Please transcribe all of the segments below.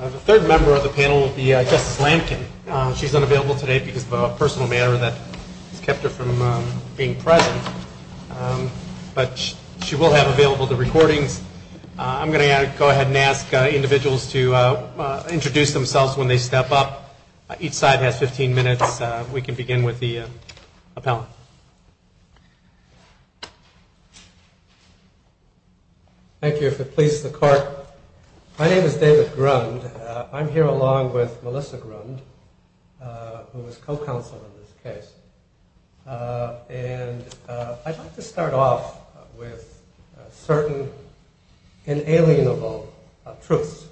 The third member of the panel will be Justice Lampkin. She's unavailable today because of a personal matter that has kept her from being present, but she will have available the recordings. I'm going to go ahead and ask individuals to introduce themselves when they step up. Each side has 15 minutes. We can begin with the appellant. Thank you, if it pleases the court. My name is David Grund. I'm here along with Melissa Grund, who is co-counsel in this case. And I'd like to start off with certain inalienable truths.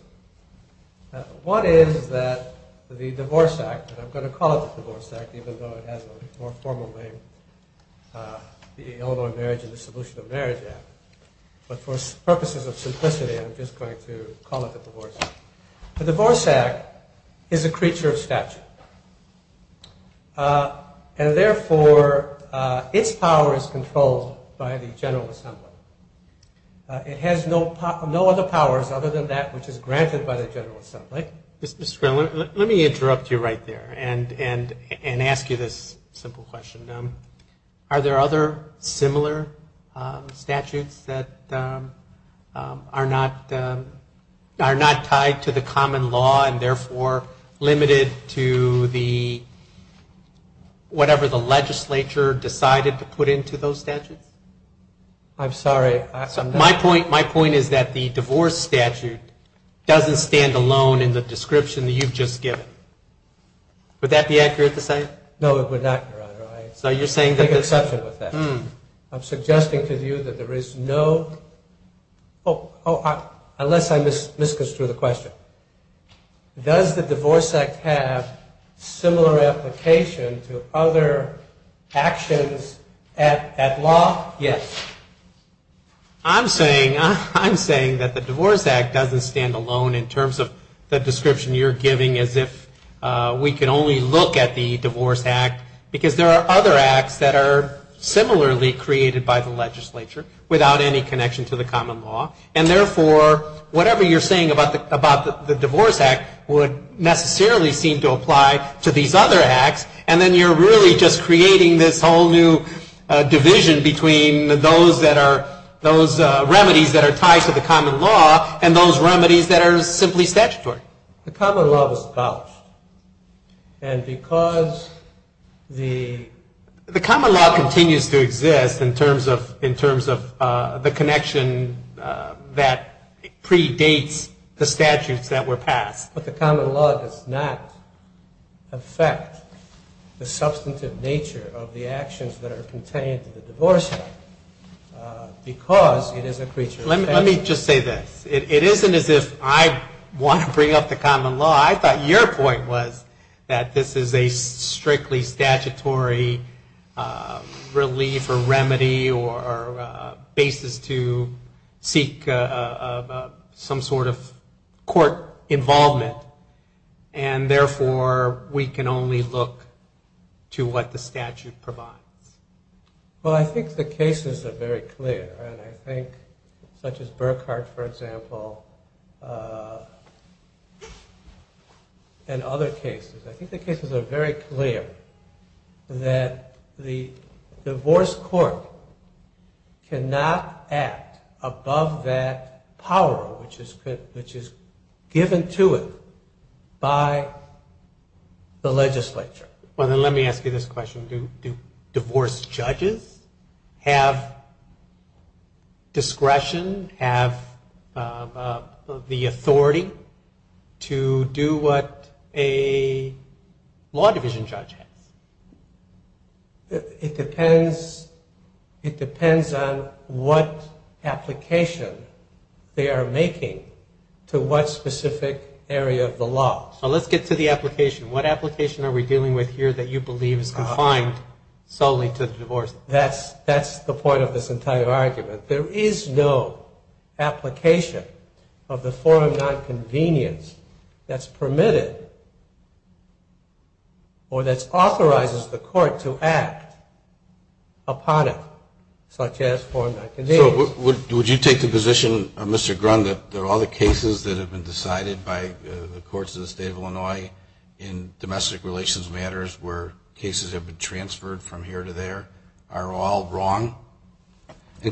One is that the Divorce Act, and I'm going to call it the Divorce Act even though it has a more formal name, the Illinois Marriage and the Solution of Marriage Act, but for purposes of simplicity I'm just going to call it the Divorce Act. The Divorce Act is a creature of statute. And therefore, its power is controlled by the General Assembly. It has no other powers other than that which is granted by the General Assembly. Let me interrupt you right there and ask you this simple question. Are there other similar statutes that are not tied to the common law and therefore limited to whatever the legislature decided to put into those statutes? I'm sorry. My point is that the divorce statute doesn't stand alone in the description that you've just given. Would that be accurate to say? No, it would not, Your Honor. I make an exception with that. I'm suggesting to you that there is no, unless I misconstrued the question. Does the Divorce Act have similar application to other actions at law? Yes. I'm saying that the Divorce Act doesn't stand alone in terms of the description you're giving as if we can only look at the Divorce Act because there are other acts that are similarly created by the legislature without any connection to the common law. And therefore, whatever you're saying about the Divorce Act would necessarily seem to apply to these other acts. And then you're really just creating this whole new division between those remedies that are tied to the common law and those remedies that are simply statutory. The common law was abolished. And because the... The common law continues to exist in terms of the connection that predates the statutes that were passed. But the common law does not affect the substantive nature of the actions that are contained in the Divorce Act because it is a creature of... Let me just say this. It isn't as if I want to bring up the common law. I thought your point was that this is a strictly statutory relief or remedy or basis to seek some sort of court involvement and therefore we can only look to what the statute provides. Well, I think the cases are very clear. And I think such as Burkhart, for example, and other cases. I think the cases are very clear that the divorce court cannot act above that power which is given to it by the legislature. Well, then let me ask you this question. Do divorce judges have discretion, have the authority to do what a law division judge has? It depends on what application they are making to what specific area of the law. Now let's get to the application. What application are we dealing with here that you believe is confined solely to the divorce? That's the point of this entire argument. There is no application of the forum nonconvenience that's permitted or that authorizes the court to act upon it such as forum nonconvenience. Would you take the position, Mr. Grund, that all the cases that have been decided by the courts of the state of Illinois in domestic relations matters where cases have been transferred from here to there are all wrong? I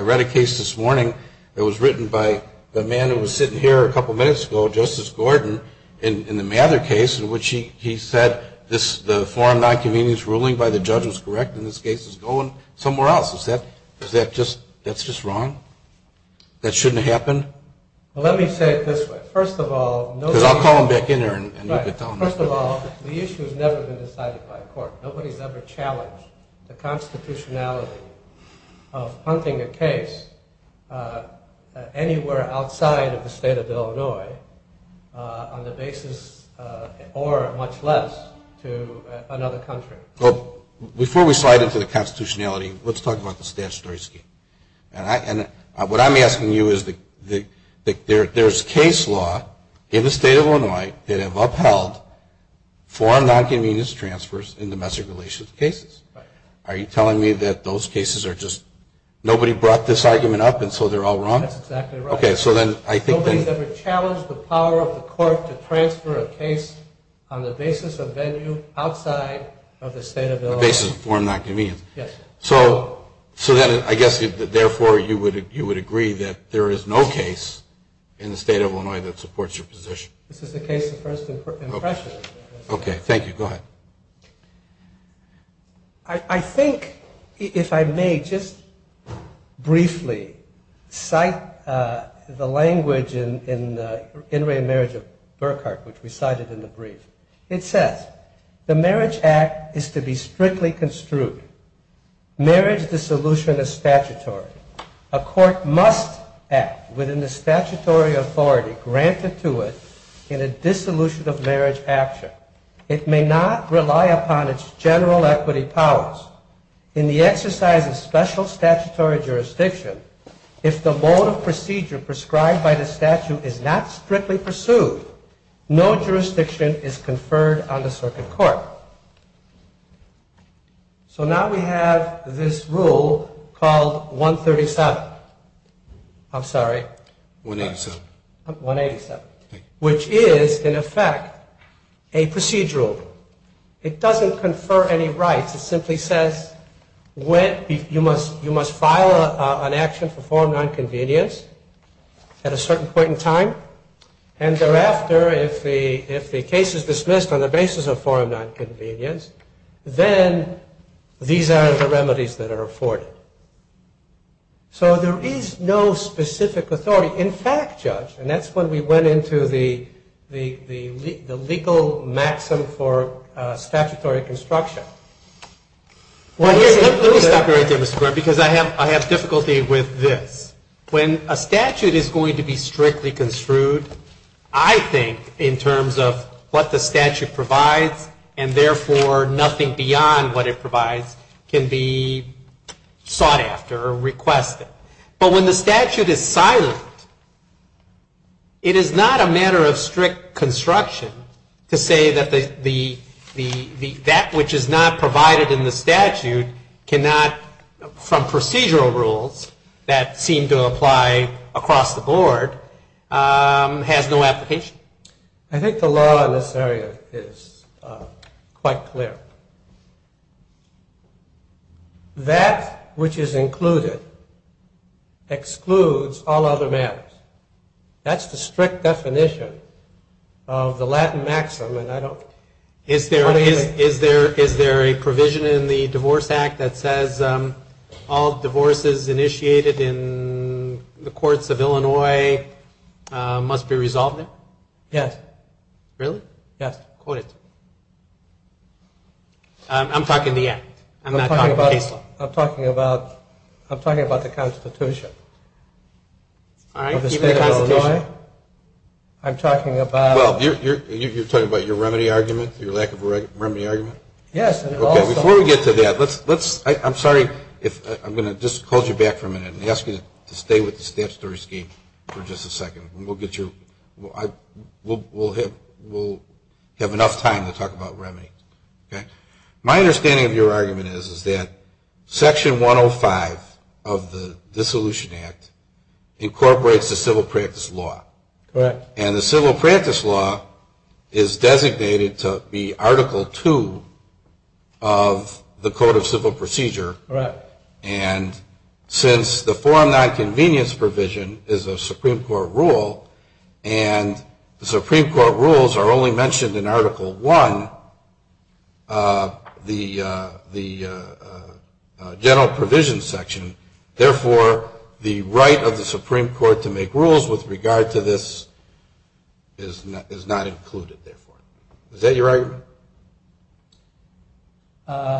read a case this morning that was written by the man who was sitting here a couple minutes ago, Justice Gordon, in the Mather case in which he said the forum nonconvenience ruling by the judge was correct and this case is going somewhere else. Is that just wrong? That shouldn't happen? Well, let me say it this way. First of all, the issue has never been decided by a court. Nobody has ever challenged the constitutionality of hunting a case anywhere outside of the state of Illinois on the basis or much less to another country. Before we slide into the constitutionality, let's talk about the statutory scheme. What I'm asking you is there's case law in the state of Illinois that have upheld forum nonconvenience transfers in domestic relations cases. Are you telling me that those cases are just nobody brought this argument up and so they're all wrong? That's exactly right. Nobody has ever challenged the power of the court to transfer a case on the basis of venue outside of the state of Illinois. On the basis of forum nonconvenience. Yes. So then I guess therefore you would agree that there is no case in the state of Illinois that supports your position. This is a case of first impression. Okay. Thank you. Go ahead. I think if I may just briefly cite the language in In Re Marriage of Burkhart, which we cited in the brief. It says, the marriage act is to be strictly construed. Marriage dissolution is statutory. A court must act within the statutory authority granted to it in a dissolution of marriage action. It may not rely upon its general equity powers. In the exercise of special statutory jurisdiction, if the mode of procedure prescribed by the statute is not strictly pursued, no jurisdiction is conferred on the circuit court. So now we have this rule called 137. I'm sorry. 187. 187. Which is, in effect, a procedural. It doesn't confer any rights. It simply says you must file an action for forum nonconvenience at a certain point in time. And thereafter, if the case is dismissed on the basis of forum nonconvenience, then these are the remedies that are afforded. So there is no specific authority. In fact, Judge, and that's when we went into the legal maxim for statutory construction. Let me stop you right there, Mr. Brewer, because I have difficulty with this. When a statute is going to be strictly construed, I think in terms of what the statute provides, and therefore nothing beyond what it provides can be sought after or requested. But when the statute is silent, it is not a matter of strict construction to say that that which is not provided in the statute cannot, from procedural rules that seem to apply across the board, has no application. I think the law in this area is quite clear. That which is included excludes all other matters. That's the strict definition of the Latin maxim. Is there a provision in the Divorce Act that says all divorces initiated in the courts of Illinois must be resolved now? Yes. Really? Yes. Quote it to me. I'm talking the Act. I'm not talking the case law. I'm talking about the Constitution. All right. Keep the Constitution. I'm talking about... You're talking about your remedy argument, your lack of remedy argument? Yes. Before we get to that, I'm sorry if I'm going to just hold you back for a minute and ask you to stay with the statutory scheme for just a second. We'll have enough time to talk about remedy. My understanding of your argument is that Section 105 of the Dissolution Act incorporates the civil practice law. Correct. And the civil practice law is designated to be Article 2 of the Code of Civil Procedure. Correct. And since the forum nonconvenience provision is a Supreme Court rule, and the Supreme Court rules are only mentioned in Article 1, the general provision section, therefore the right of the Supreme Court to make rules with regard to this is not included, therefore. Is that your argument?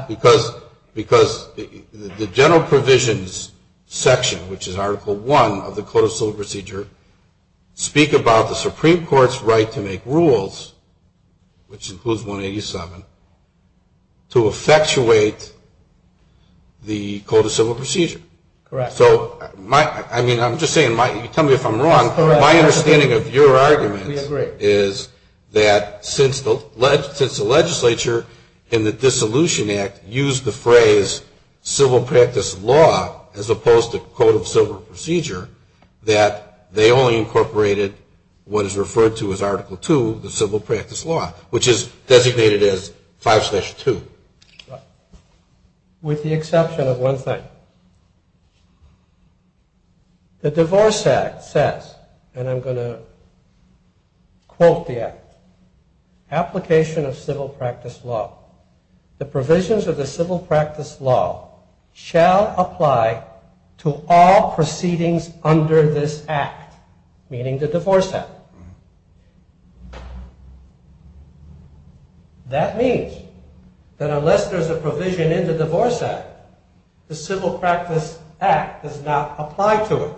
Because the general provisions section, which is Article 1 of the Code of Civil Procedure, speak about the Supreme Court's right to make rules, which includes 187, to effectuate the Code of Civil Procedure. Correct. I'm just saying, tell me if I'm wrong, my understanding of your argument is that since the legislature in the Dissolution Act used the phrase as opposed to Code of Civil Procedure, that they only incorporated what is referred to as Article 2, the civil practice law, which is designated as 5-2. Correct. With the exception of one thing. The Divorce Act says, and I'm going to quote the Act, Application of civil practice law. The provisions of the civil practice law shall apply to all proceedings under this Act. Meaning the Divorce Act. That means that unless there's a provision in the Divorce Act, the civil practice act does not apply to it.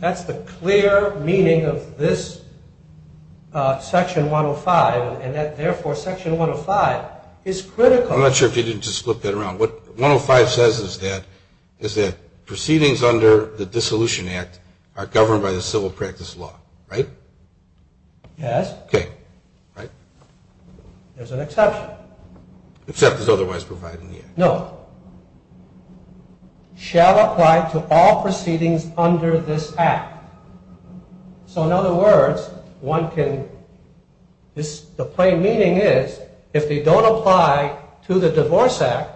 That's the clear meaning of this Section 105, and therefore Section 105 is critical. I'm not sure if you didn't just flip that around. What 105 says is that proceedings under the Dissolution Act are governed by the civil practice law. Right? Yes. Okay. Right? There's an exception. Except is otherwise provided in the Act. No. Shall apply to all proceedings under this Act. So in other words, one can, the plain meaning is, if they don't apply to the Divorce Act,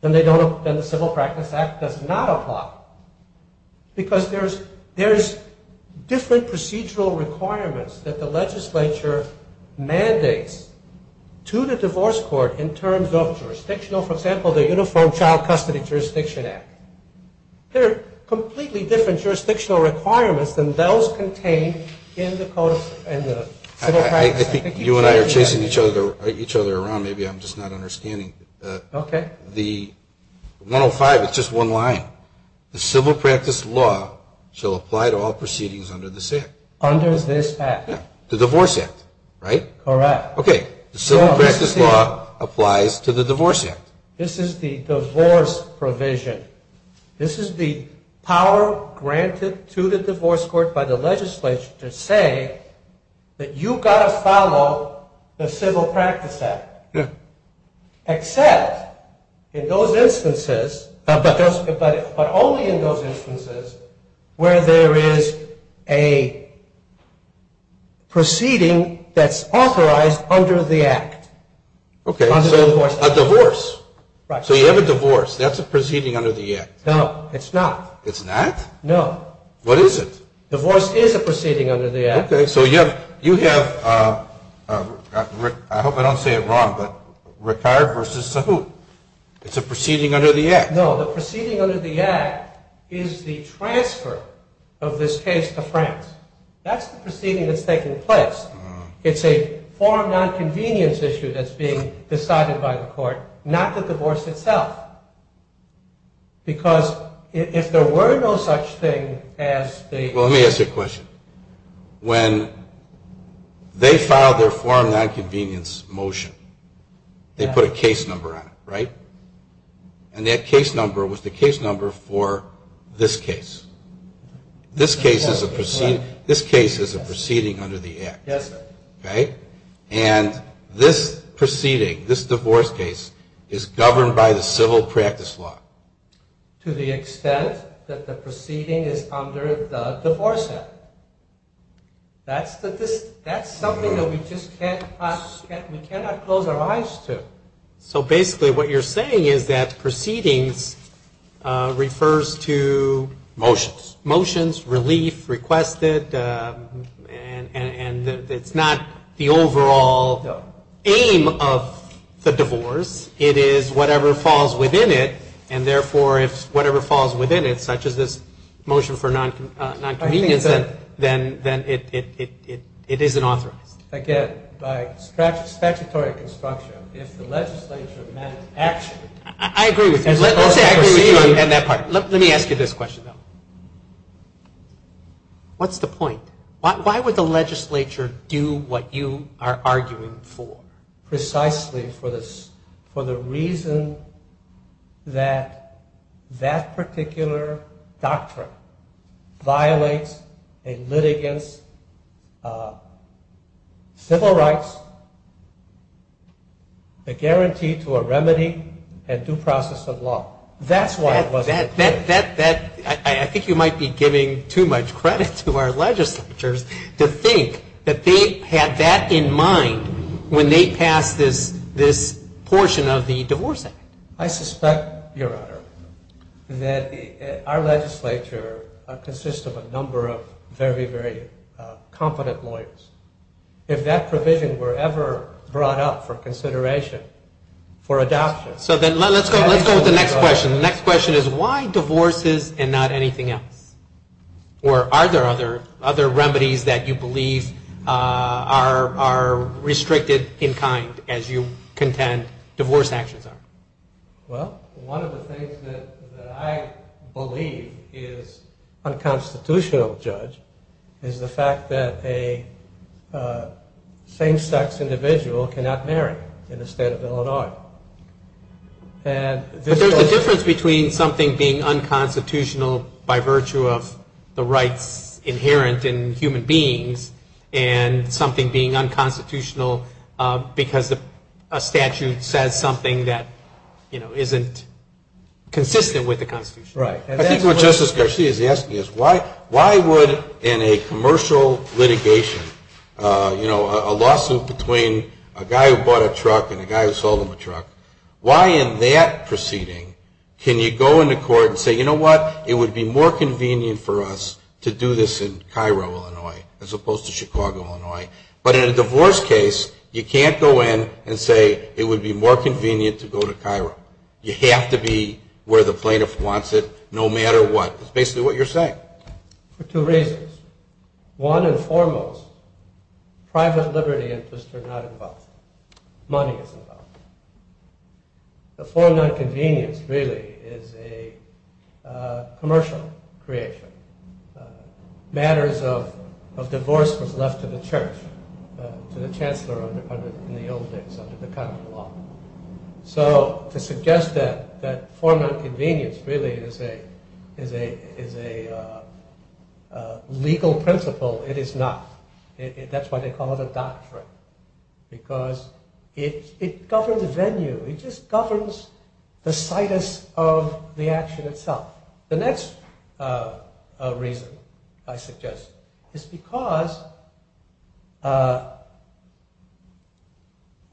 then the civil practice act does not apply. Because there's different procedural requirements that the legislature mandates to the divorce court in terms of jurisdictional, for example, the Uniform Child Custody Jurisdiction Act. There are completely different jurisdictional requirements than those contained in the civil practice. I think you and I are chasing each other around. Maybe I'm just not understanding. Okay. The 105, it's just one line. The civil practice law shall apply to all proceedings under this Act. Under this Act. Yeah. The Divorce Act, right? Correct. Okay. The civil practice law applies to the Divorce Act. This is the divorce provision. This is the power granted to the divorce court by the legislature to say that you've got to follow the civil practice act. Yeah. Except in those instances, but only in those instances where there is a proceeding that's authorized under the Act. Okay, so a divorce. Right. So you have a divorce. That's a proceeding under the Act. No, it's not. It's not? No. What is it? Divorce is a proceeding under the Act. Okay, so you have, I hope I don't say it wrong, but Ricard versus Sahut. It's a proceeding under the Act. No, the proceeding under the Act is the transfer of this case to France. That's the proceeding that's taking place. It's a foreign nonconvenience issue that's being decided by the court, not the divorce itself. Because if there were no such thing as the... When they filed their foreign nonconvenience motion, they put a case number on it, right? And that case number was the case number for this case. This case is a proceeding under the Act. Yes, sir. Okay? And this proceeding, this divorce case, is governed by the civil practice law. To the extent that the proceeding is under the divorce act. That's something that we just cannot close our eyes to. So basically what you're saying is that proceedings refers to... Motions. Motions, relief, requested, and it's not the overall aim of the divorce. It is whatever falls within it, and therefore, if whatever falls within it, such as this motion for nonconvenience, then it isn't authorized. Again, by statutory construction, if the legislature managed to actually... I agree with you. Let's say I agree with you on that part. Let me ask you this question, though. What's the point? Why would the legislature do what you are arguing for? Precisely for the reason that that particular doctrine violates a litigant's civil rights, a guarantee to a remedy, and due process of law. That's why it wasn't... I think you might be giving too much credit to our legislatures to think that they had that in mind when they passed this portion of the divorce act. I suspect, Your Honor, that our legislature consists of a number of very, very competent lawyers. If that provision were ever brought up for consideration for adoption... So then let's go with the next question. The next question is why divorces and not anything else? Or are there other remedies that you believe are restricted in kind as you contend divorce actions are? Well, one of the things that I believe is unconstitutional, Judge, is the fact that a same-sex individual cannot marry in the state of Illinois. But there's a difference between something being unconstitutional by virtue of the rights inherent in human beings and something being unconstitutional because a statute says something that isn't consistent with the Constitution. Right. I think what Justice Garcia is asking is why would, in a commercial litigation, a lawsuit between a guy who bought a truck and a guy who sold him a truck, why in that proceeding can you go into court and say, you know what, it would be more convenient for us to do this in Cairo, Illinois, as opposed to Chicago, Illinois. But in a divorce case, you can't go in and say it would be more convenient to go to Cairo. You have to be where the plaintiff wants it no matter what. That's basically what you're saying. For two reasons. One and foremost, private liberty interests are not involved. Money is involved. The form of convenience really is a commercial creation. Matters of divorce was left to the church, to the chancellor in the old days under the common law. So to suggest that form of convenience really is a legal principle, it is not. That's why they call it a doctrine. Because it governs the venue. It just governs the situs of the action itself. The next reason, I suggest, is because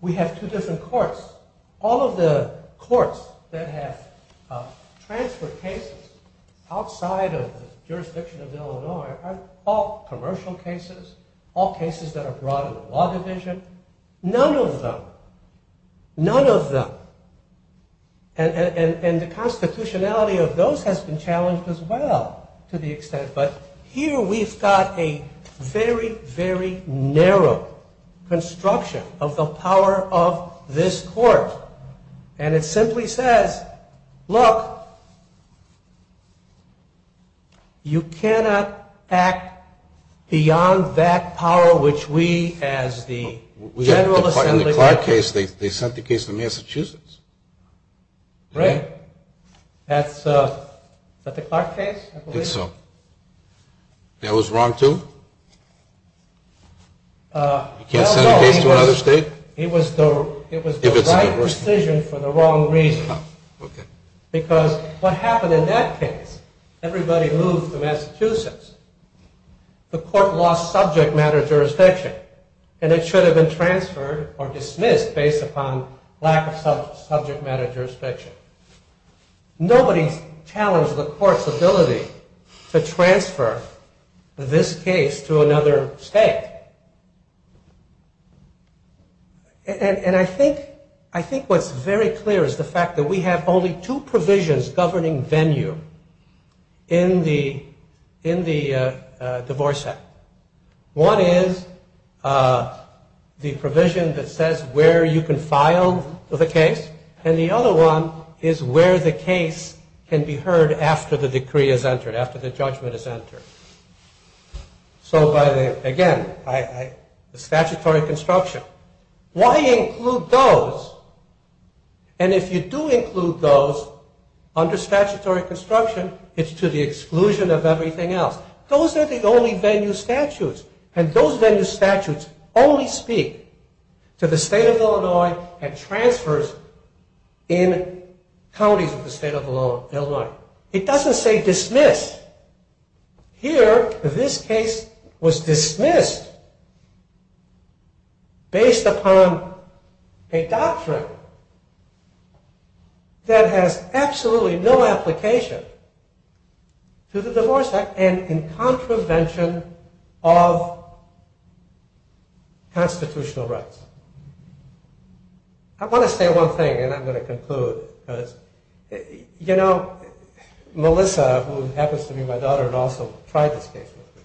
we have two different courts. All of the courts that have transferred cases outside of the jurisdiction of Illinois are all commercial cases, all cases that are brought in the law division. None of them. None of them. And the constitutionality of those has been challenged as well to the extent. But here we've got a very, very narrow construction of the power of this court. And it simply says, look, you cannot act beyond that power which we as the general assembly... In the Clark case, they sent the case to Massachusetts. Right. Is that the Clark case? I believe so. That was wrong too? You can't send a case to another state? It was the right decision for the wrong reason. Because what happened in that case, everybody moved to Massachusetts. The court lost subject matter jurisdiction. And it should have been transferred or dismissed based upon lack of subject matter jurisdiction. Nobody challenged the court's ability to transfer this case to another state. And I think what's very clear is the fact that we have only two provisions governing venue in the divorce act. One is the provision that says where you can file the case. And the other one is where the case can be heard after the decree is entered, after the judgment is entered. So again, the statutory construction. Why include those? And if you do include those under statutory construction, it's to the exclusion of everything else. Those are the only venue statutes. And those venue statutes only speak to the state of Illinois and transfers in counties of the state of Illinois. It doesn't say dismiss. And here, this case was dismissed based upon a doctrine that has absolutely no application to the divorce act and in contravention of constitutional rights. I want to say one thing, and I'm going to conclude. You know, Melissa, who happens to be my daughter and also tried this case with me,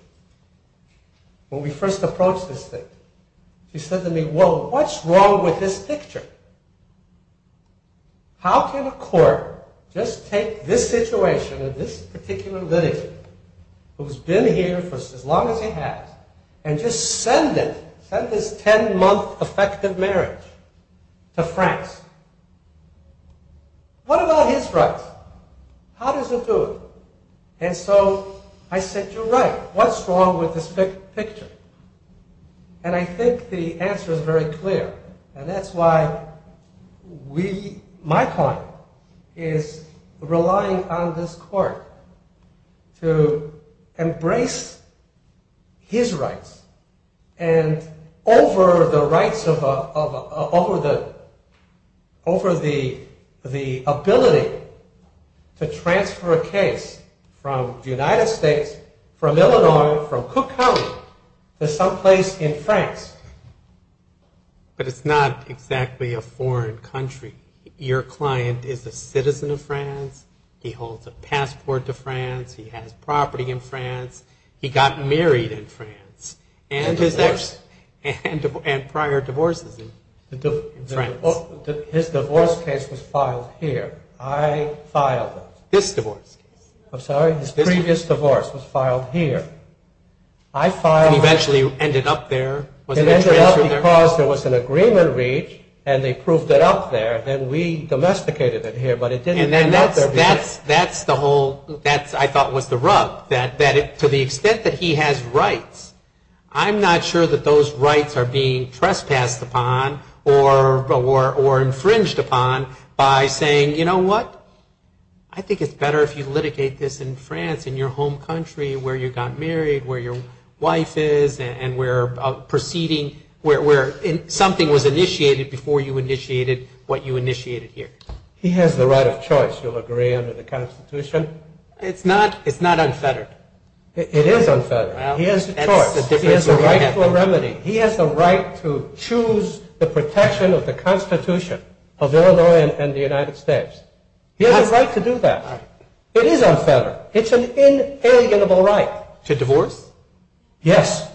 when we first approached this thing, she said to me, well, what's wrong with this picture? How can a court just take this situation and this particular litigant, who's been here for as long as he has, and just send it, send this 10-month effective marriage to France? What about his rights? How does it do it? And so I said, you're right. What's wrong with this picture? And I think the answer is very clear. And that's why we, my point, is relying on this court to embrace his rights and over the rights of, over the, over the ability to transfer a case from the United States, from Illinois, from Cook County to someplace in France. But it's not exactly a foreign country. Your client is a citizen of France. He holds a passport to France. He has property in France. He got married in France. And his ex, and prior divorces in France. His divorce case was filed here. I filed it. This divorce case. I'm sorry? His previous divorce was filed here. I filed. It eventually ended up there. It ended up because there was an agreement reached, and they proved it up there, and we domesticated it here, but it didn't end up there. That's the whole, that I thought was the rub, that to the extent that he has rights, I'm not sure that those rights are being trespassed upon or infringed upon by saying, you know what? I think it's better if you litigate this in France, in your home country, where you got married, where your wife is, and where proceeding, where something was initiated before you initiated what you initiated here. He has the right of choice, you'll agree, under the Constitution. It's not unfettered. It is unfettered. He has the choice. He has the right for remedy. He has the right to choose the protection of the Constitution of Illinois and the United States. He has a right to do that. It is unfettered. It's an inalienable right. To divorce? Yes,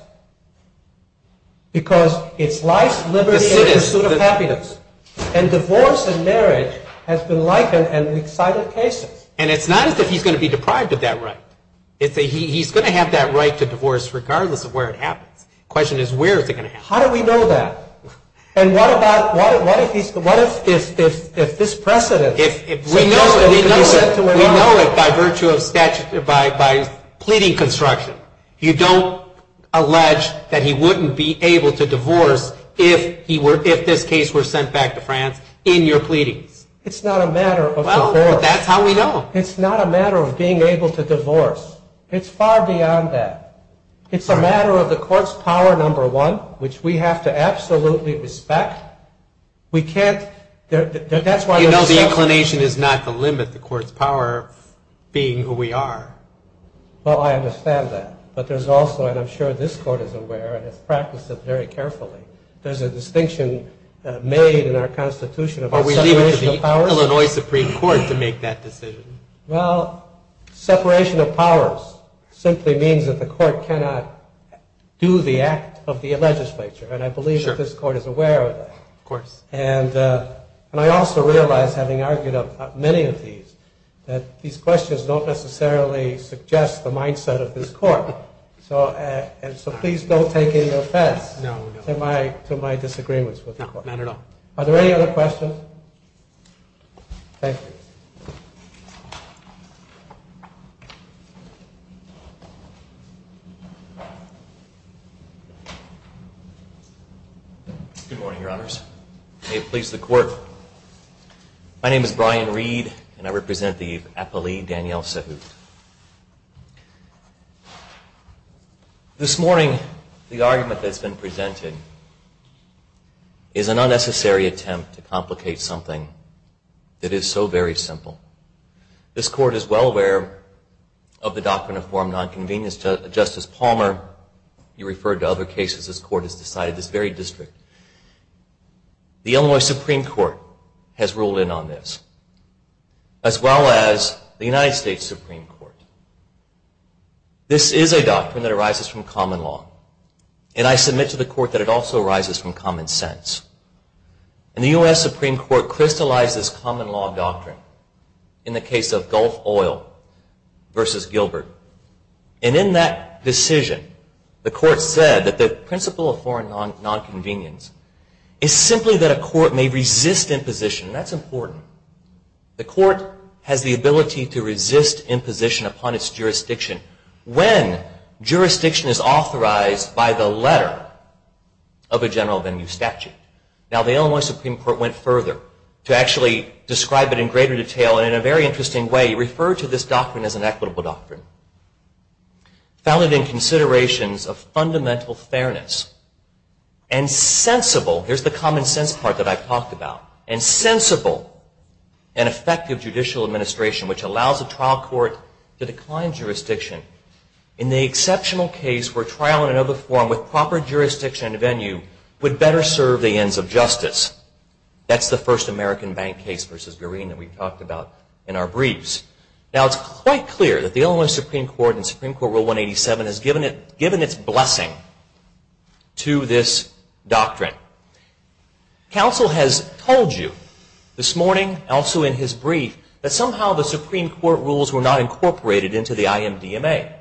because it's life, liberty, and pursuit of happiness, and divorce and marriage has been likened in excited cases. And it's not as if he's going to be deprived of that right. He's going to have that right to divorce regardless of where it happens. The question is where is it going to happen? How do we know that? And what if this precedent is sent to Illinois? We know it by virtue of pleading construction. You don't allege that he wouldn't be able to divorce if this case were sent back to France in your pleadings. It's not a matter of divorce. Well, that's how we know. It's not a matter of being able to divorce. It's far beyond that. It's a matter of the court's power, number one, which we have to absolutely respect. You know the inclination is not the limit, the court's power of being who we are. Well, I understand that. But there's also, and I'm sure this court is aware and has practiced it very carefully, there's a distinction made in our Constitution about separation of powers. Are we leaving it to the Illinois Supreme Court to make that decision? Well, separation of powers simply means that the court cannot do the act of the legislature. And I believe that this court is aware of that. Of course. And I also realize, having argued many of these, that these questions don't necessarily suggest the mindset of this court. So please don't take any offense to my disagreements with the court. Not at all. Are there any other questions? Thank you. Good morning, Your Honors. May it please the court. My name is Brian Reed, and I represent the appellee, Danielle Sahut. This morning, the argument that's been presented is an unnecessary attempt to complicate something that is so very simple. This court is well aware of the doctrine of form nonconvenience. Justice Palmer, you referred to other cases this court has decided, this very district. The Illinois Supreme Court has ruled in on this, as well as the United States Supreme Court. This is a doctrine that arises from common law. And I submit to the court that it also arises from common sense. And the U.S. Supreme Court crystallized this common law doctrine in the case of Gulf Oil versus Gilbert. And in that decision, the court said that the principle of form nonconvenience is simply that a court may resist imposition. That's important. The court has the ability to resist imposition upon its jurisdiction when jurisdiction is authorized by the letter of a general venue statute. Now, the Illinois Supreme Court went further to actually describe it in greater detail in a very interesting way. It referred to this doctrine as an equitable doctrine, founded in considerations of fundamental fairness and sensible. Here's the common sense part that I've talked about. And sensible and effective judicial administration, which allows a trial court to decline jurisdiction in the exceptional case where trial in another form with proper jurisdiction and venue would better serve the ends of justice. That's the first American bank case versus Green that we've talked about in our briefs. Now, it's quite clear that the Illinois Supreme Court in Supreme Court Rule 187 has given its blessing to this doctrine. Counsel has told you this morning, also in his brief, that somehow the Supreme Court rules were not incorporated into the IMDMA.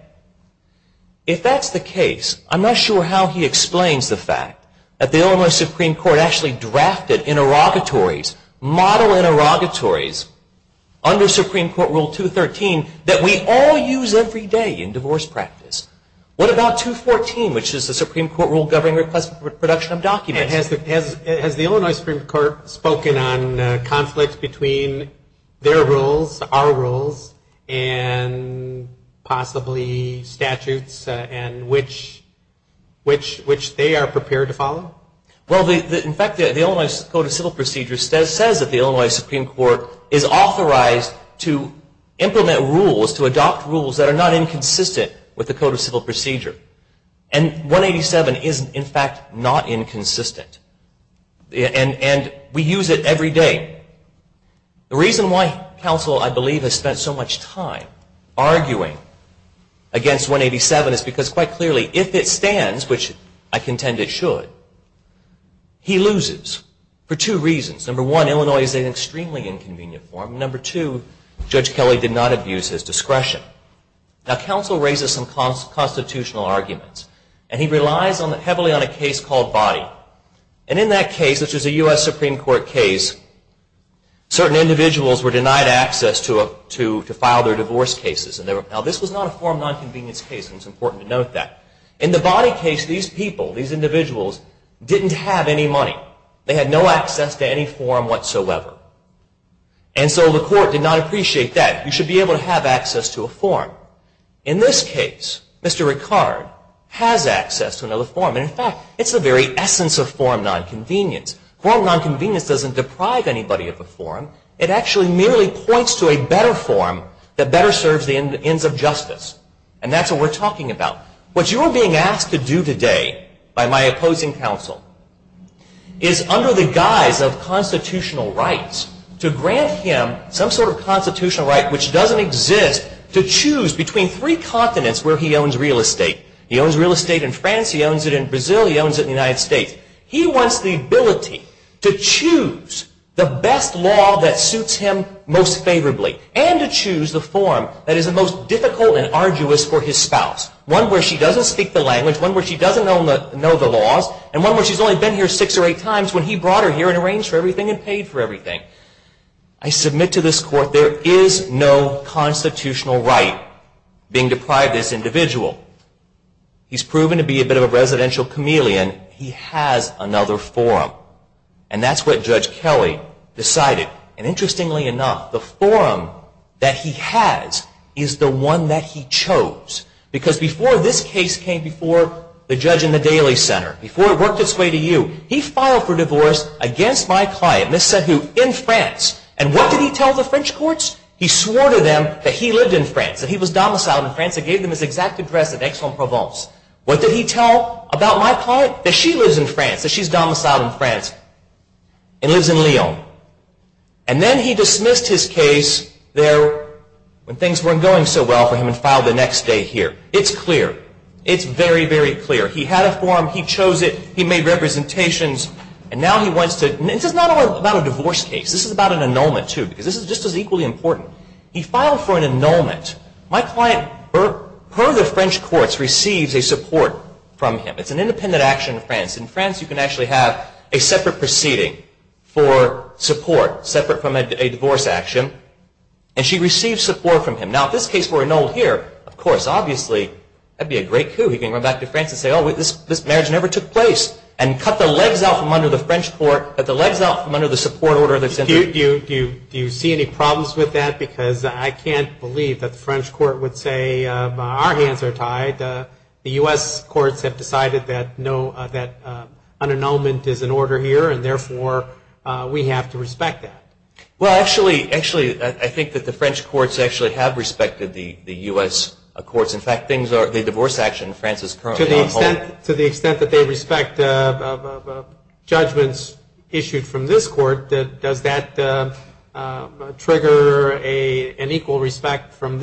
If that's the case, I'm not sure how he explains the fact that the Illinois Supreme Court actually drafted interrogatories, model interrogatories under Supreme Court Rule 213 that we all use every day in divorce practice. What about 214, which is the Supreme Court Rule governing request for production of documents? Has the Illinois Supreme Court spoken on conflicts between their rules, our rules, and possibly statutes, and which they are prepared to follow? Well, in fact, the Illinois Code of Civil Procedures says that the Illinois Supreme Court is authorized to implement rules, to adopt rules that are not inconsistent with the Code of Civil Procedure. And 187 is, in fact, not inconsistent. And we use it every day. The reason why counsel, I believe, has spent so much time arguing against 187 is because, quite clearly, if it stands, which I contend it should, he loses for two reasons. Number one, Illinois is an extremely inconvenient form. Number two, Judge Kelly did not abuse his discretion. Now, counsel raises some constitutional arguments. And he relies heavily on a case called Body. And in that case, which is a US Supreme Court case, certain individuals were denied access to file their divorce cases. Now, this was not a form nonconvenience case, and it's important to note that. In the Body case, these people, these individuals, didn't have any money. They had no access to any form whatsoever. And so the court did not appreciate that. You should be able to have access to a form. In this case, Mr. Ricard has access to another form. And, in fact, it's the very essence of form nonconvenience. Form nonconvenience doesn't deprive anybody of a form. It actually merely points to a better form that better serves the ends of justice. And that's what we're talking about. What you are being asked to do today by my opposing counsel is, under the guise of constitutional rights, to grant him some sort of constitutional right, which doesn't exist, to choose between three continents where he owns real estate. He owns real estate in France. He owns it in Brazil. He owns it in the United States. He wants the ability to choose the best law that suits him most favorably and to choose the form that is the most difficult and arduous for his spouse. One where she doesn't speak the language, one where she doesn't know the laws, and one where she's only been here six or eight times when he brought her here and arranged for everything and paid for everything. I submit to this court there is no constitutional right being deprived this individual. He's proven to be a bit of a residential chameleon. He has another form. And that's what Judge Kelly decided. And, interestingly enough, the form that he has is the one that he chose. Because before this case came before the judge in the Daly Center, before it worked its way to you, he filed for divorce against my client, Miss Sahu, in France. And what did he tell the French courts? He swore to them that he lived in France, that he was domiciled in France and gave them his exact address at Aix-en-Provence. What did he tell about my client? That she lives in France, that she's domiciled in France and lives in Lyon. And then he dismissed his case there when things weren't going so well for him and filed the next day here. It's clear. It's very, very clear. He had a form. He chose it. He made representations. And now he wants to... This is not about a divorce case. This is about an annulment, too, because this is just as equally important. He filed for an annulment. My client, per the French courts, receives a support from him. It's an independent action in France. In France, you can actually have a separate proceeding for support, separate from a divorce action. And she receives support from him. Now, if this case were annulled here, of course, obviously, that would be a great coup. He can run back to France and say, oh, this marriage never took place and cut the legs out from under the French court, cut the legs out from under the support order that's in there. Do you see any problems with that? Because I can't believe that the French court would say, our hands are tied. The U.S. courts have decided that an annulment is in order here, and therefore, we have to respect that. Well, actually, I think that the French courts actually have respected the U.S. courts. In fact, the divorce action in France is currently on hold. To the extent that they respect judgments issued from this court, does that trigger an equal respect from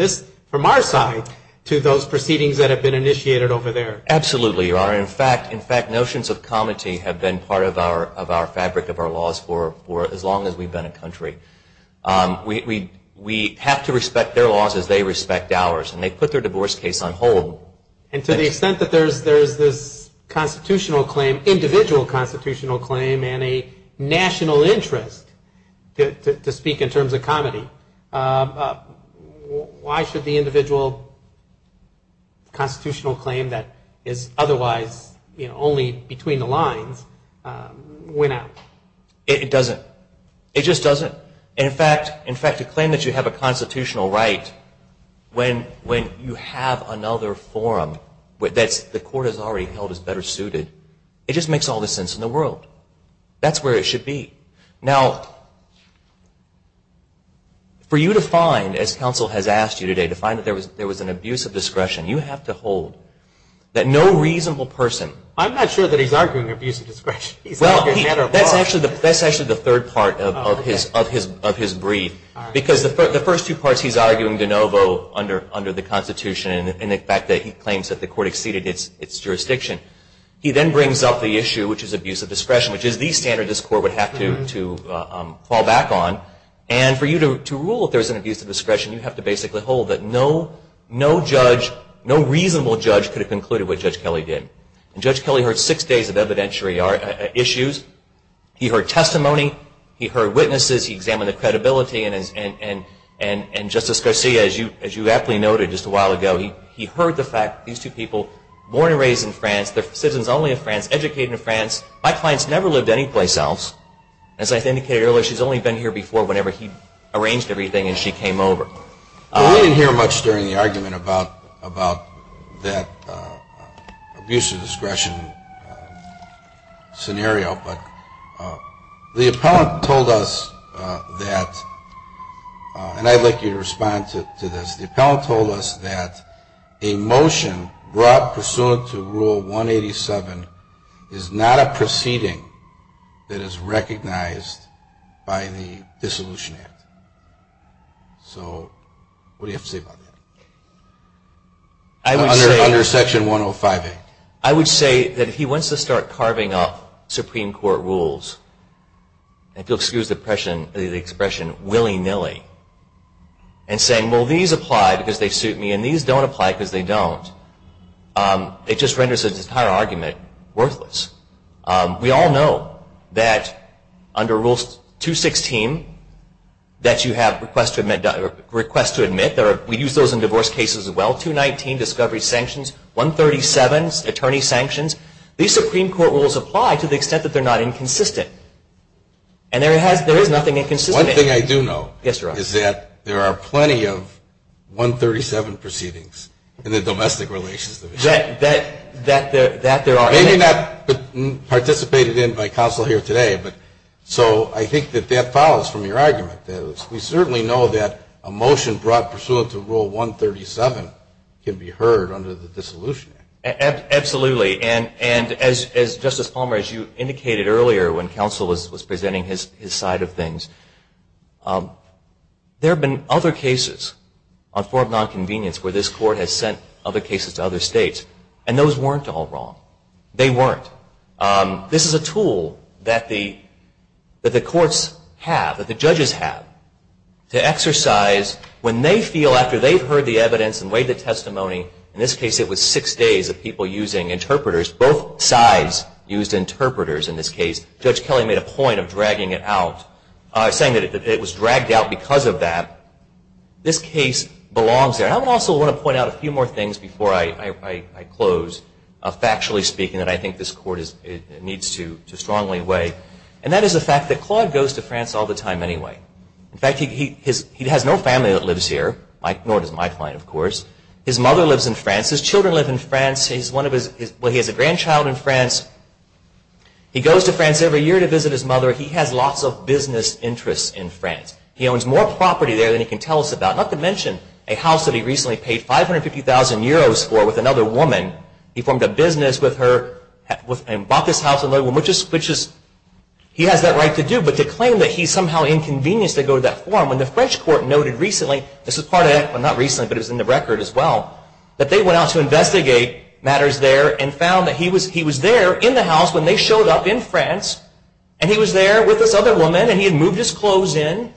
our side to those proceedings that have been initiated over there? Absolutely, Your Honor. In fact, notions of comity have been part of our fabric of our laws for as long as we've been a country. We have to respect their laws as they respect ours. And they put their divorce case on hold. And to the extent that there's this constitutional claim, individual constitutional claim, and a national interest to speak in terms of comity, why should the individual constitutional claim that is otherwise only between the lines win out? It doesn't. It just doesn't. In fact, to claim that you have a constitutional right when you have another forum that the court has already held is better suited, it just makes all the sense in the world. That's where it should be. Now, for you to find, as counsel has asked you today, to find that there was an abuse of discretion, you have to hold that no reasonable person... That's actually the third part of his brief, because the first two parts he's arguing de novo under the Constitution and the fact that he claims that the court exceeded its jurisdiction. He then brings up the issue, which is abuse of discretion, which is the standard this court would have to fall back on. And for you to rule if there's an abuse of discretion, you have to basically hold that no judge, no reasonable judge, could have concluded what Judge Kelly did. And Judge Kelly heard six days of evidentiary issues. He heard testimony. He heard witnesses. He examined the credibility. And Justice Garcia, as you aptly noted just a while ago, he heard the fact, these two people were born and raised in France. They're citizens only of France, educated in France. My client's never lived anyplace else. As I indicated earlier, she's only been here before whenever he arranged everything and she came over. We didn't hear much during the argument about that abuse of discretion scenario, but the appellant told us that, and I'd like you to respond to this, the appellant told us that a motion brought pursuant to Rule 187 is not a proceeding that is recognized by the Dissolution Act. So what do you have to say about that? Under Section 105A. I would say that if he wants to start carving up Supreme Court rules, and if you'll excuse the expression, willy-nilly, and saying, well, these apply because they suit me and these don't apply because they don't, it just renders the entire argument worthless. We all know that under Rule 216 that you have requests to admit. We use those in divorce cases as well. 219, discovery sanctions. 137, attorney sanctions. These Supreme Court rules apply to the extent that they're not inconsistent. And there is nothing inconsistent. One thing I do know is that there are plenty of 137 proceedings in the Domestic Relations Division. That there are. Maybe not participated in by counsel here today, but so I think that that follows from your argument. We certainly know that a motion brought pursuant to Rule 137 can be heard under the Dissolution Act. Absolutely. And as Justice Palmer, as you indicated earlier when counsel was presenting his side of things, there have been other cases on form of nonconvenience where this court has sent other cases to other states, and those weren't all wrong. They weren't. This is a tool that the courts have, that the judges have, to exercise when they feel after they've heard the evidence and weighed the testimony, in this case it was six days of people using interpreters, both sides used interpreters in this case. Judge Kelly made a point of dragging it out, saying that it was dragged out because of that. This case belongs there. And I also want to point out a few more things before I close, factually speaking, that I think this court needs to strongly weigh. And that is the fact that Claude goes to France all the time anyway. In fact, he has no family that lives here, nor does my client, of course. His mother lives in France. His children live in France. He has a grandchild in France. He goes to France every year to visit his mother. He has lots of business interests in France. He owns more property there than he can tell us about, not to mention a house that he recently paid 550,000 euros for with another woman. He formed a business with her and bought this house with another woman, which he has that right to do, but to claim that he's somehow inconvenienced to go to that forum when the French court noted recently, this was part of that, well not recently, but it was in the record as well, that they went out to investigate matters there and found that he was there in the house when they showed up in France, and he was there with this other woman, and he had moved his clothes in.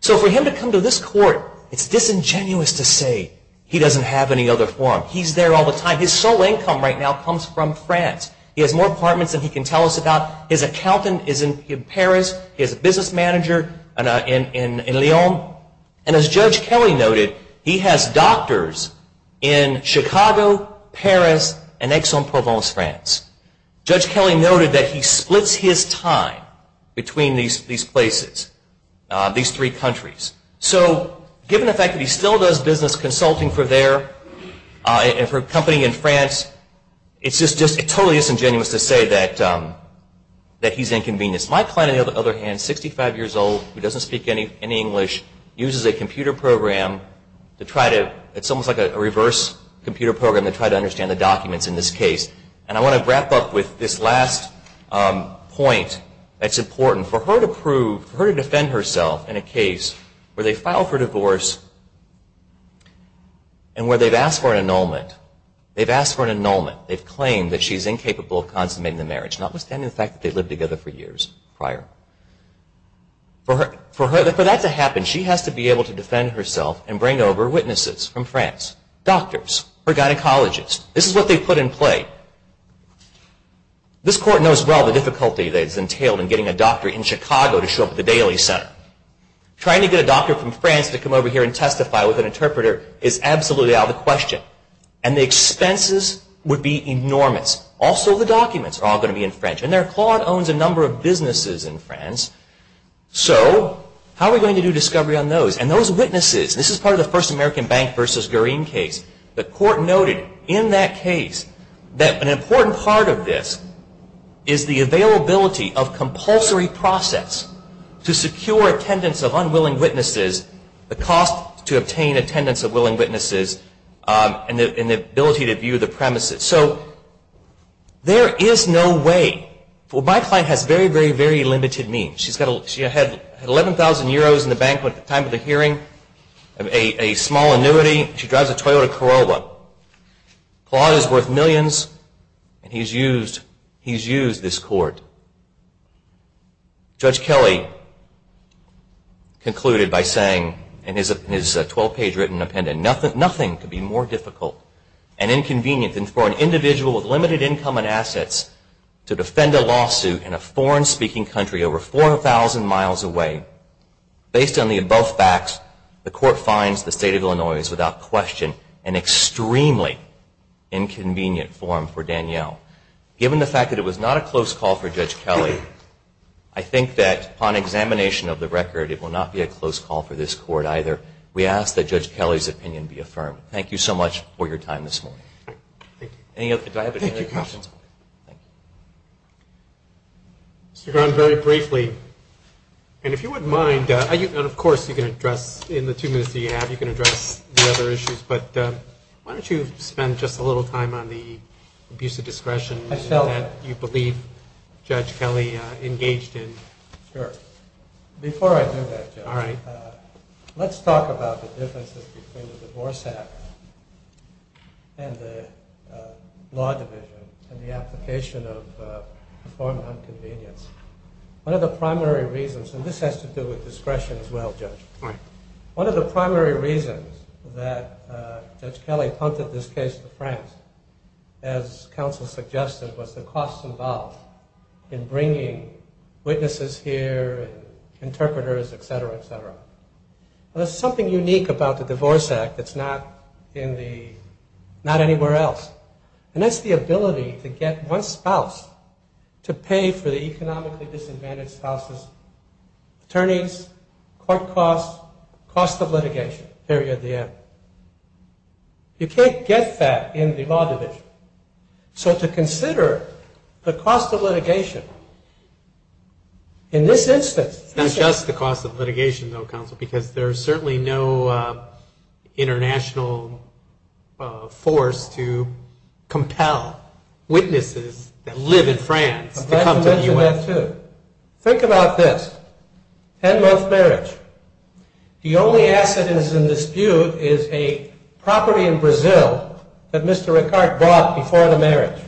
So for him to come to this court, it's disingenuous to say he doesn't have any other forum. He's there all the time. His sole income right now comes from France. He has more apartments than he can tell us about. His accountant is in Paris. He has a business manager in Lyon. And as Judge Kelly noted, he has doctors in Chicago, Paris, and Aix-en-Provence, France. Judge Kelly noted that he splits his time between these places, these three countries. So given the fact that he still does business consulting for their company in France, it's just totally disingenuous to say that he's inconvenienced. My client, on the other hand, 65 years old, who doesn't speak any English, uses a computer program to try to, it's almost like a reverse computer program to try to understand the documents in this case. And I want to wrap up with this last point that's important. For her to prove, for her to defend herself in a case where they file for divorce and where they've asked for an annulment, they've asked for an annulment. They've claimed that she's incapable of consummating the marriage, notwithstanding the fact that they lived together for years prior. For that to happen, she has to be able to defend herself and bring over witnesses from France, doctors or gynecologists. This is what they put in play. This Court knows well the difficulty that is entailed in getting a doctor in Chicago to show up at the Daly Center. Trying to get a doctor from France to come over here and testify with an interpreter is absolutely out of the question. And the expenses would be enormous. Also, the documents are all going to be in French. And their claud owns a number of businesses in France. So how are we going to do discovery on those? And those witnesses, this is part of the First American Bank v. Garim case. The Court noted in that case that an important part of this is the availability of compulsory process to secure attendance of unwilling witnesses, the cost to obtain attendance of willing witnesses, and the ability to view the premises. So there is no way. Well, my client has very, very, very limited means. She had 11,000 euros in the bank at the time of the hearing, a small annuity. She drives a Toyota Corolla. Claud is worth millions, and he's used this court. Judge Kelly concluded by saying in his 12-page written appendant, nothing could be more difficult and inconvenient than for an individual with limited income and assets to defend a lawsuit in a foreign-speaking country over 4,000 miles away. Based on the above facts, the Court finds the state of Illinois is without question an extremely inconvenient forum for Danielle. Given the fact that it was not a close call for Judge Kelly, I think that upon examination of the record, it will not be a close call for this Court either. We ask that Judge Kelly's opinion be affirmed. Thank you so much for your time this morning. Thank you. Do I have any other questions? Thank you, counsel. Mr. Grund, very briefly, and if you wouldn't mind, and of course you can address in the two minutes that you have, you can address the other issues, but why don't you spend just a little time on the abuse of discretion that you believe Judge Kelly engaged in. Sure. Before I do that, Judge, let's talk about the differences between the divorce act and the law division and the application of the form of inconvenience. One of the primary reasons, and this has to do with discretion as well, Judge, one of the primary reasons that Judge Kelly punted this case to France, as counsel suggested, was the costs involved in bringing witnesses here and interpreters, et cetera, et cetera. There's something unique about the divorce act that's not anywhere else, and that's the ability to get one spouse to pay for the economically disadvantaged spouse's attorneys, court costs, cost of litigation, period, the end. You can't get that in the law division. So to consider the cost of litigation in this instance. It's not just the cost of litigation, though, counsel, because there's certainly no international force to compel witnesses that live in France to come to the U.S. I'd like to mention that, too. Think about this, 10-month marriage. The only asset that's in dispute is a property in Brazil that Mr. Ricard bought before the marriage.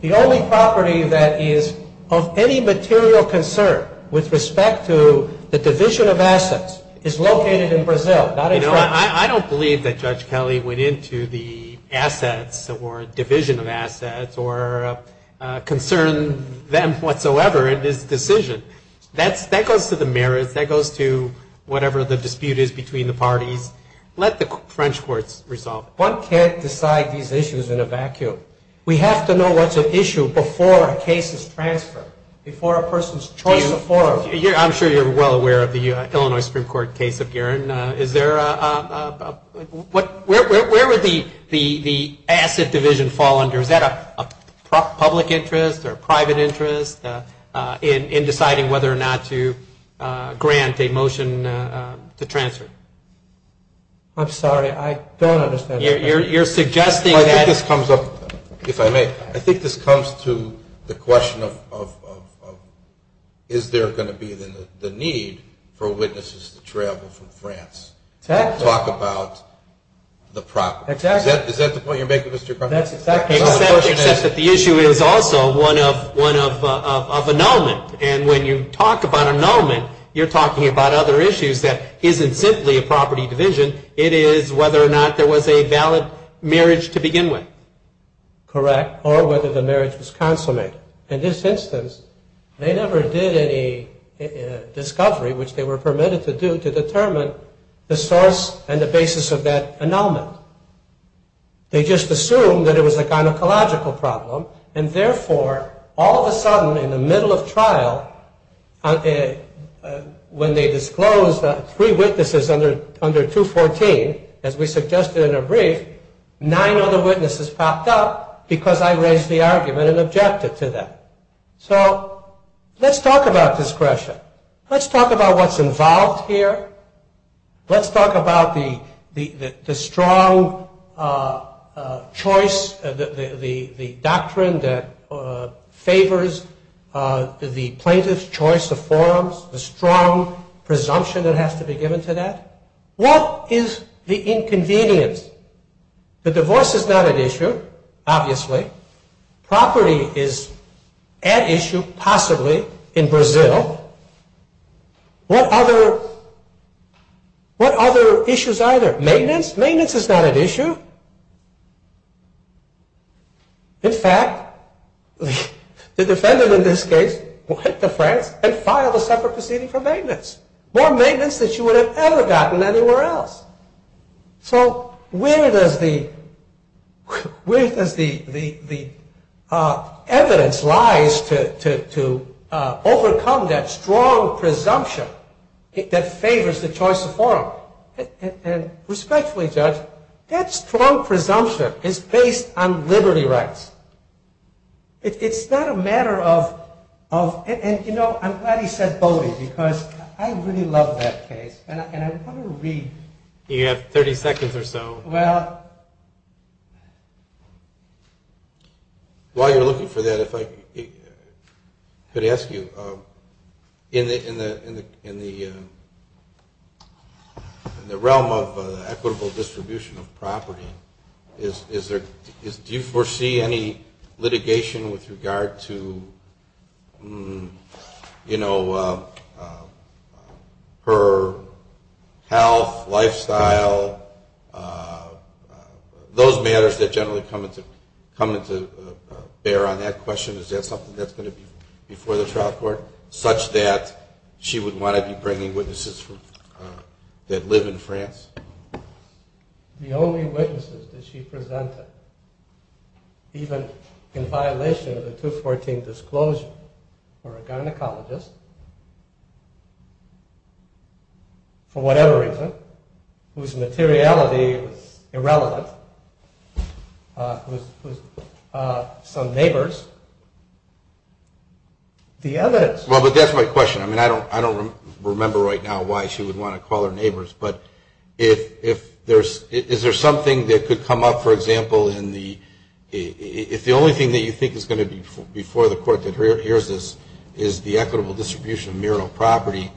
The only property that is of any material concern with respect to the division of assets is located in Brazil, not in France. You know, I don't believe that Judge Kelly went into the assets or division of assets or concerned them whatsoever in his decision. That goes to the marriage. That goes to whatever the dispute is between the parties. Let the French courts resolve it. One can't decide these issues in a vacuum. We have to know what's at issue before a case is transferred, before a person's choice of forum. I'm sure you're well aware of the Illinois Supreme Court case of Guerin. Is there a – where would the asset division fall under? Is that a public interest or a private interest in deciding whether or not to grant a motion to transfer? I'm sorry. I don't understand. You're suggesting that – Well, I think this comes up – if I may. I think this comes to the question of is there going to be the need for witnesses to travel from France to talk about the property. Exactly. Is that the point you're making, Mr. Cronin? That's exactly it. Except that the issue is also one of annulment. And when you talk about annulment, you're talking about other issues that isn't simply a property division. It is whether or not there was a valid marriage to begin with. Correct. Or whether the marriage was consummated. In this instance, they never did any discovery, which they were permitted to do, to determine the source and the basis of that annulment. They just assumed that it was a gynecological problem, and therefore all of a sudden in the middle of trial, when they disclosed three witnesses under 214, as we suggested in a brief, nine other witnesses popped up because I raised the argument and objected to that. So let's talk about discretion. Let's talk about what's involved here. Let's talk about the strong choice, the doctrine that favors the plaintiff's choice of forms, the strong presumption that has to be given to that. What is the inconvenience? The divorce is not at issue, obviously. Property is at issue, possibly, in Brazil. What other issues are there? Maintenance? Maintenance is not at issue. In fact, the defendant in this case went to France and filed a separate proceeding for maintenance. More maintenance than she would have ever gotten anywhere else. So where does the evidence lie to overcome that strong presumption that favors the choice of form? And respectfully, Judge, that strong presumption is based on liberty rights. It's not a matter of... And, you know, I'm glad he said Bodie because I really love that case, and I want to read... You have 30 seconds or so. Well... While you're looking for that, if I could ask you, in the realm of equitable distribution of property, do you foresee any litigation with regard to, you know, her health, lifestyle, those matters that generally come into bear on that question? Is that something that's going to be before the trial court such that she would want to be bringing witnesses that live in France? The only witnesses that she presented, even in violation of the 214 disclosure, were a gynecologist, for whatever reason, whose materiality was irrelevant, whose... some neighbors. The evidence... Well, but that's my question. I mean, I don't remember right now why she would want to call her neighbors, but if there's... If the only thing that could come up, for example, in the... If the only thing that you think is going to be before the court that hears this is the equitable distribution of mural property,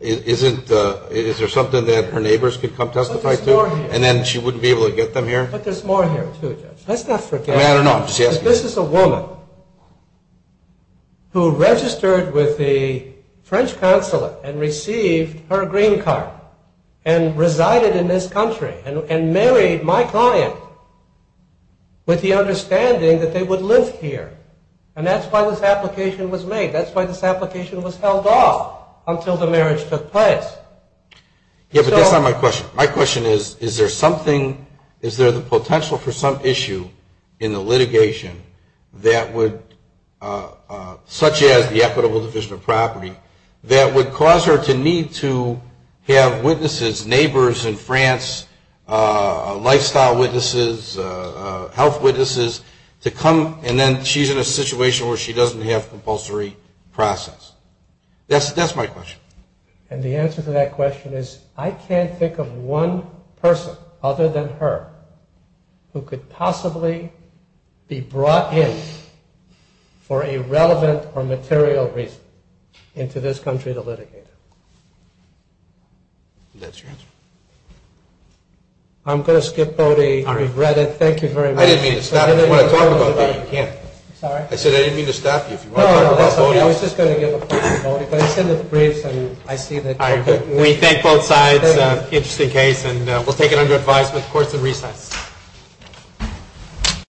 is there something that her neighbors could come testify to? And then she wouldn't be able to get them here? But there's more here, too, Judge. Let's not forget... I mean, I don't know. I'm just asking. This is a woman who registered with the French consulate and received her green card and resided in this country and married my client with the understanding that they would live here. And that's why this application was made. That's why this application was held off until the marriage took place. Yeah, but that's not my question. My question is, is there something... Is there the potential for some issue in the litigation that would... such as the equitable division of property that would cause her to need to have witnesses, neighbors in France, lifestyle witnesses, health witnesses, to come and then she's in a situation where she doesn't have compulsory process? That's my question. And the answer to that question is, I can't think of one person other than her who could possibly be brought in for a relevant or material reason into this country to litigate it. That's your answer? I'm going to skip Bode. I regret it. Thank you very much. I didn't mean to stop you. If you want to talk about Bode, you can. I said I didn't mean to stop you. If you want to talk about Bode... No, no, that's okay. I was just going to give a point to Bode. But I've seen the briefs and I see that... We thank both sides. Interesting case. And we'll take it under advice with courts in recess.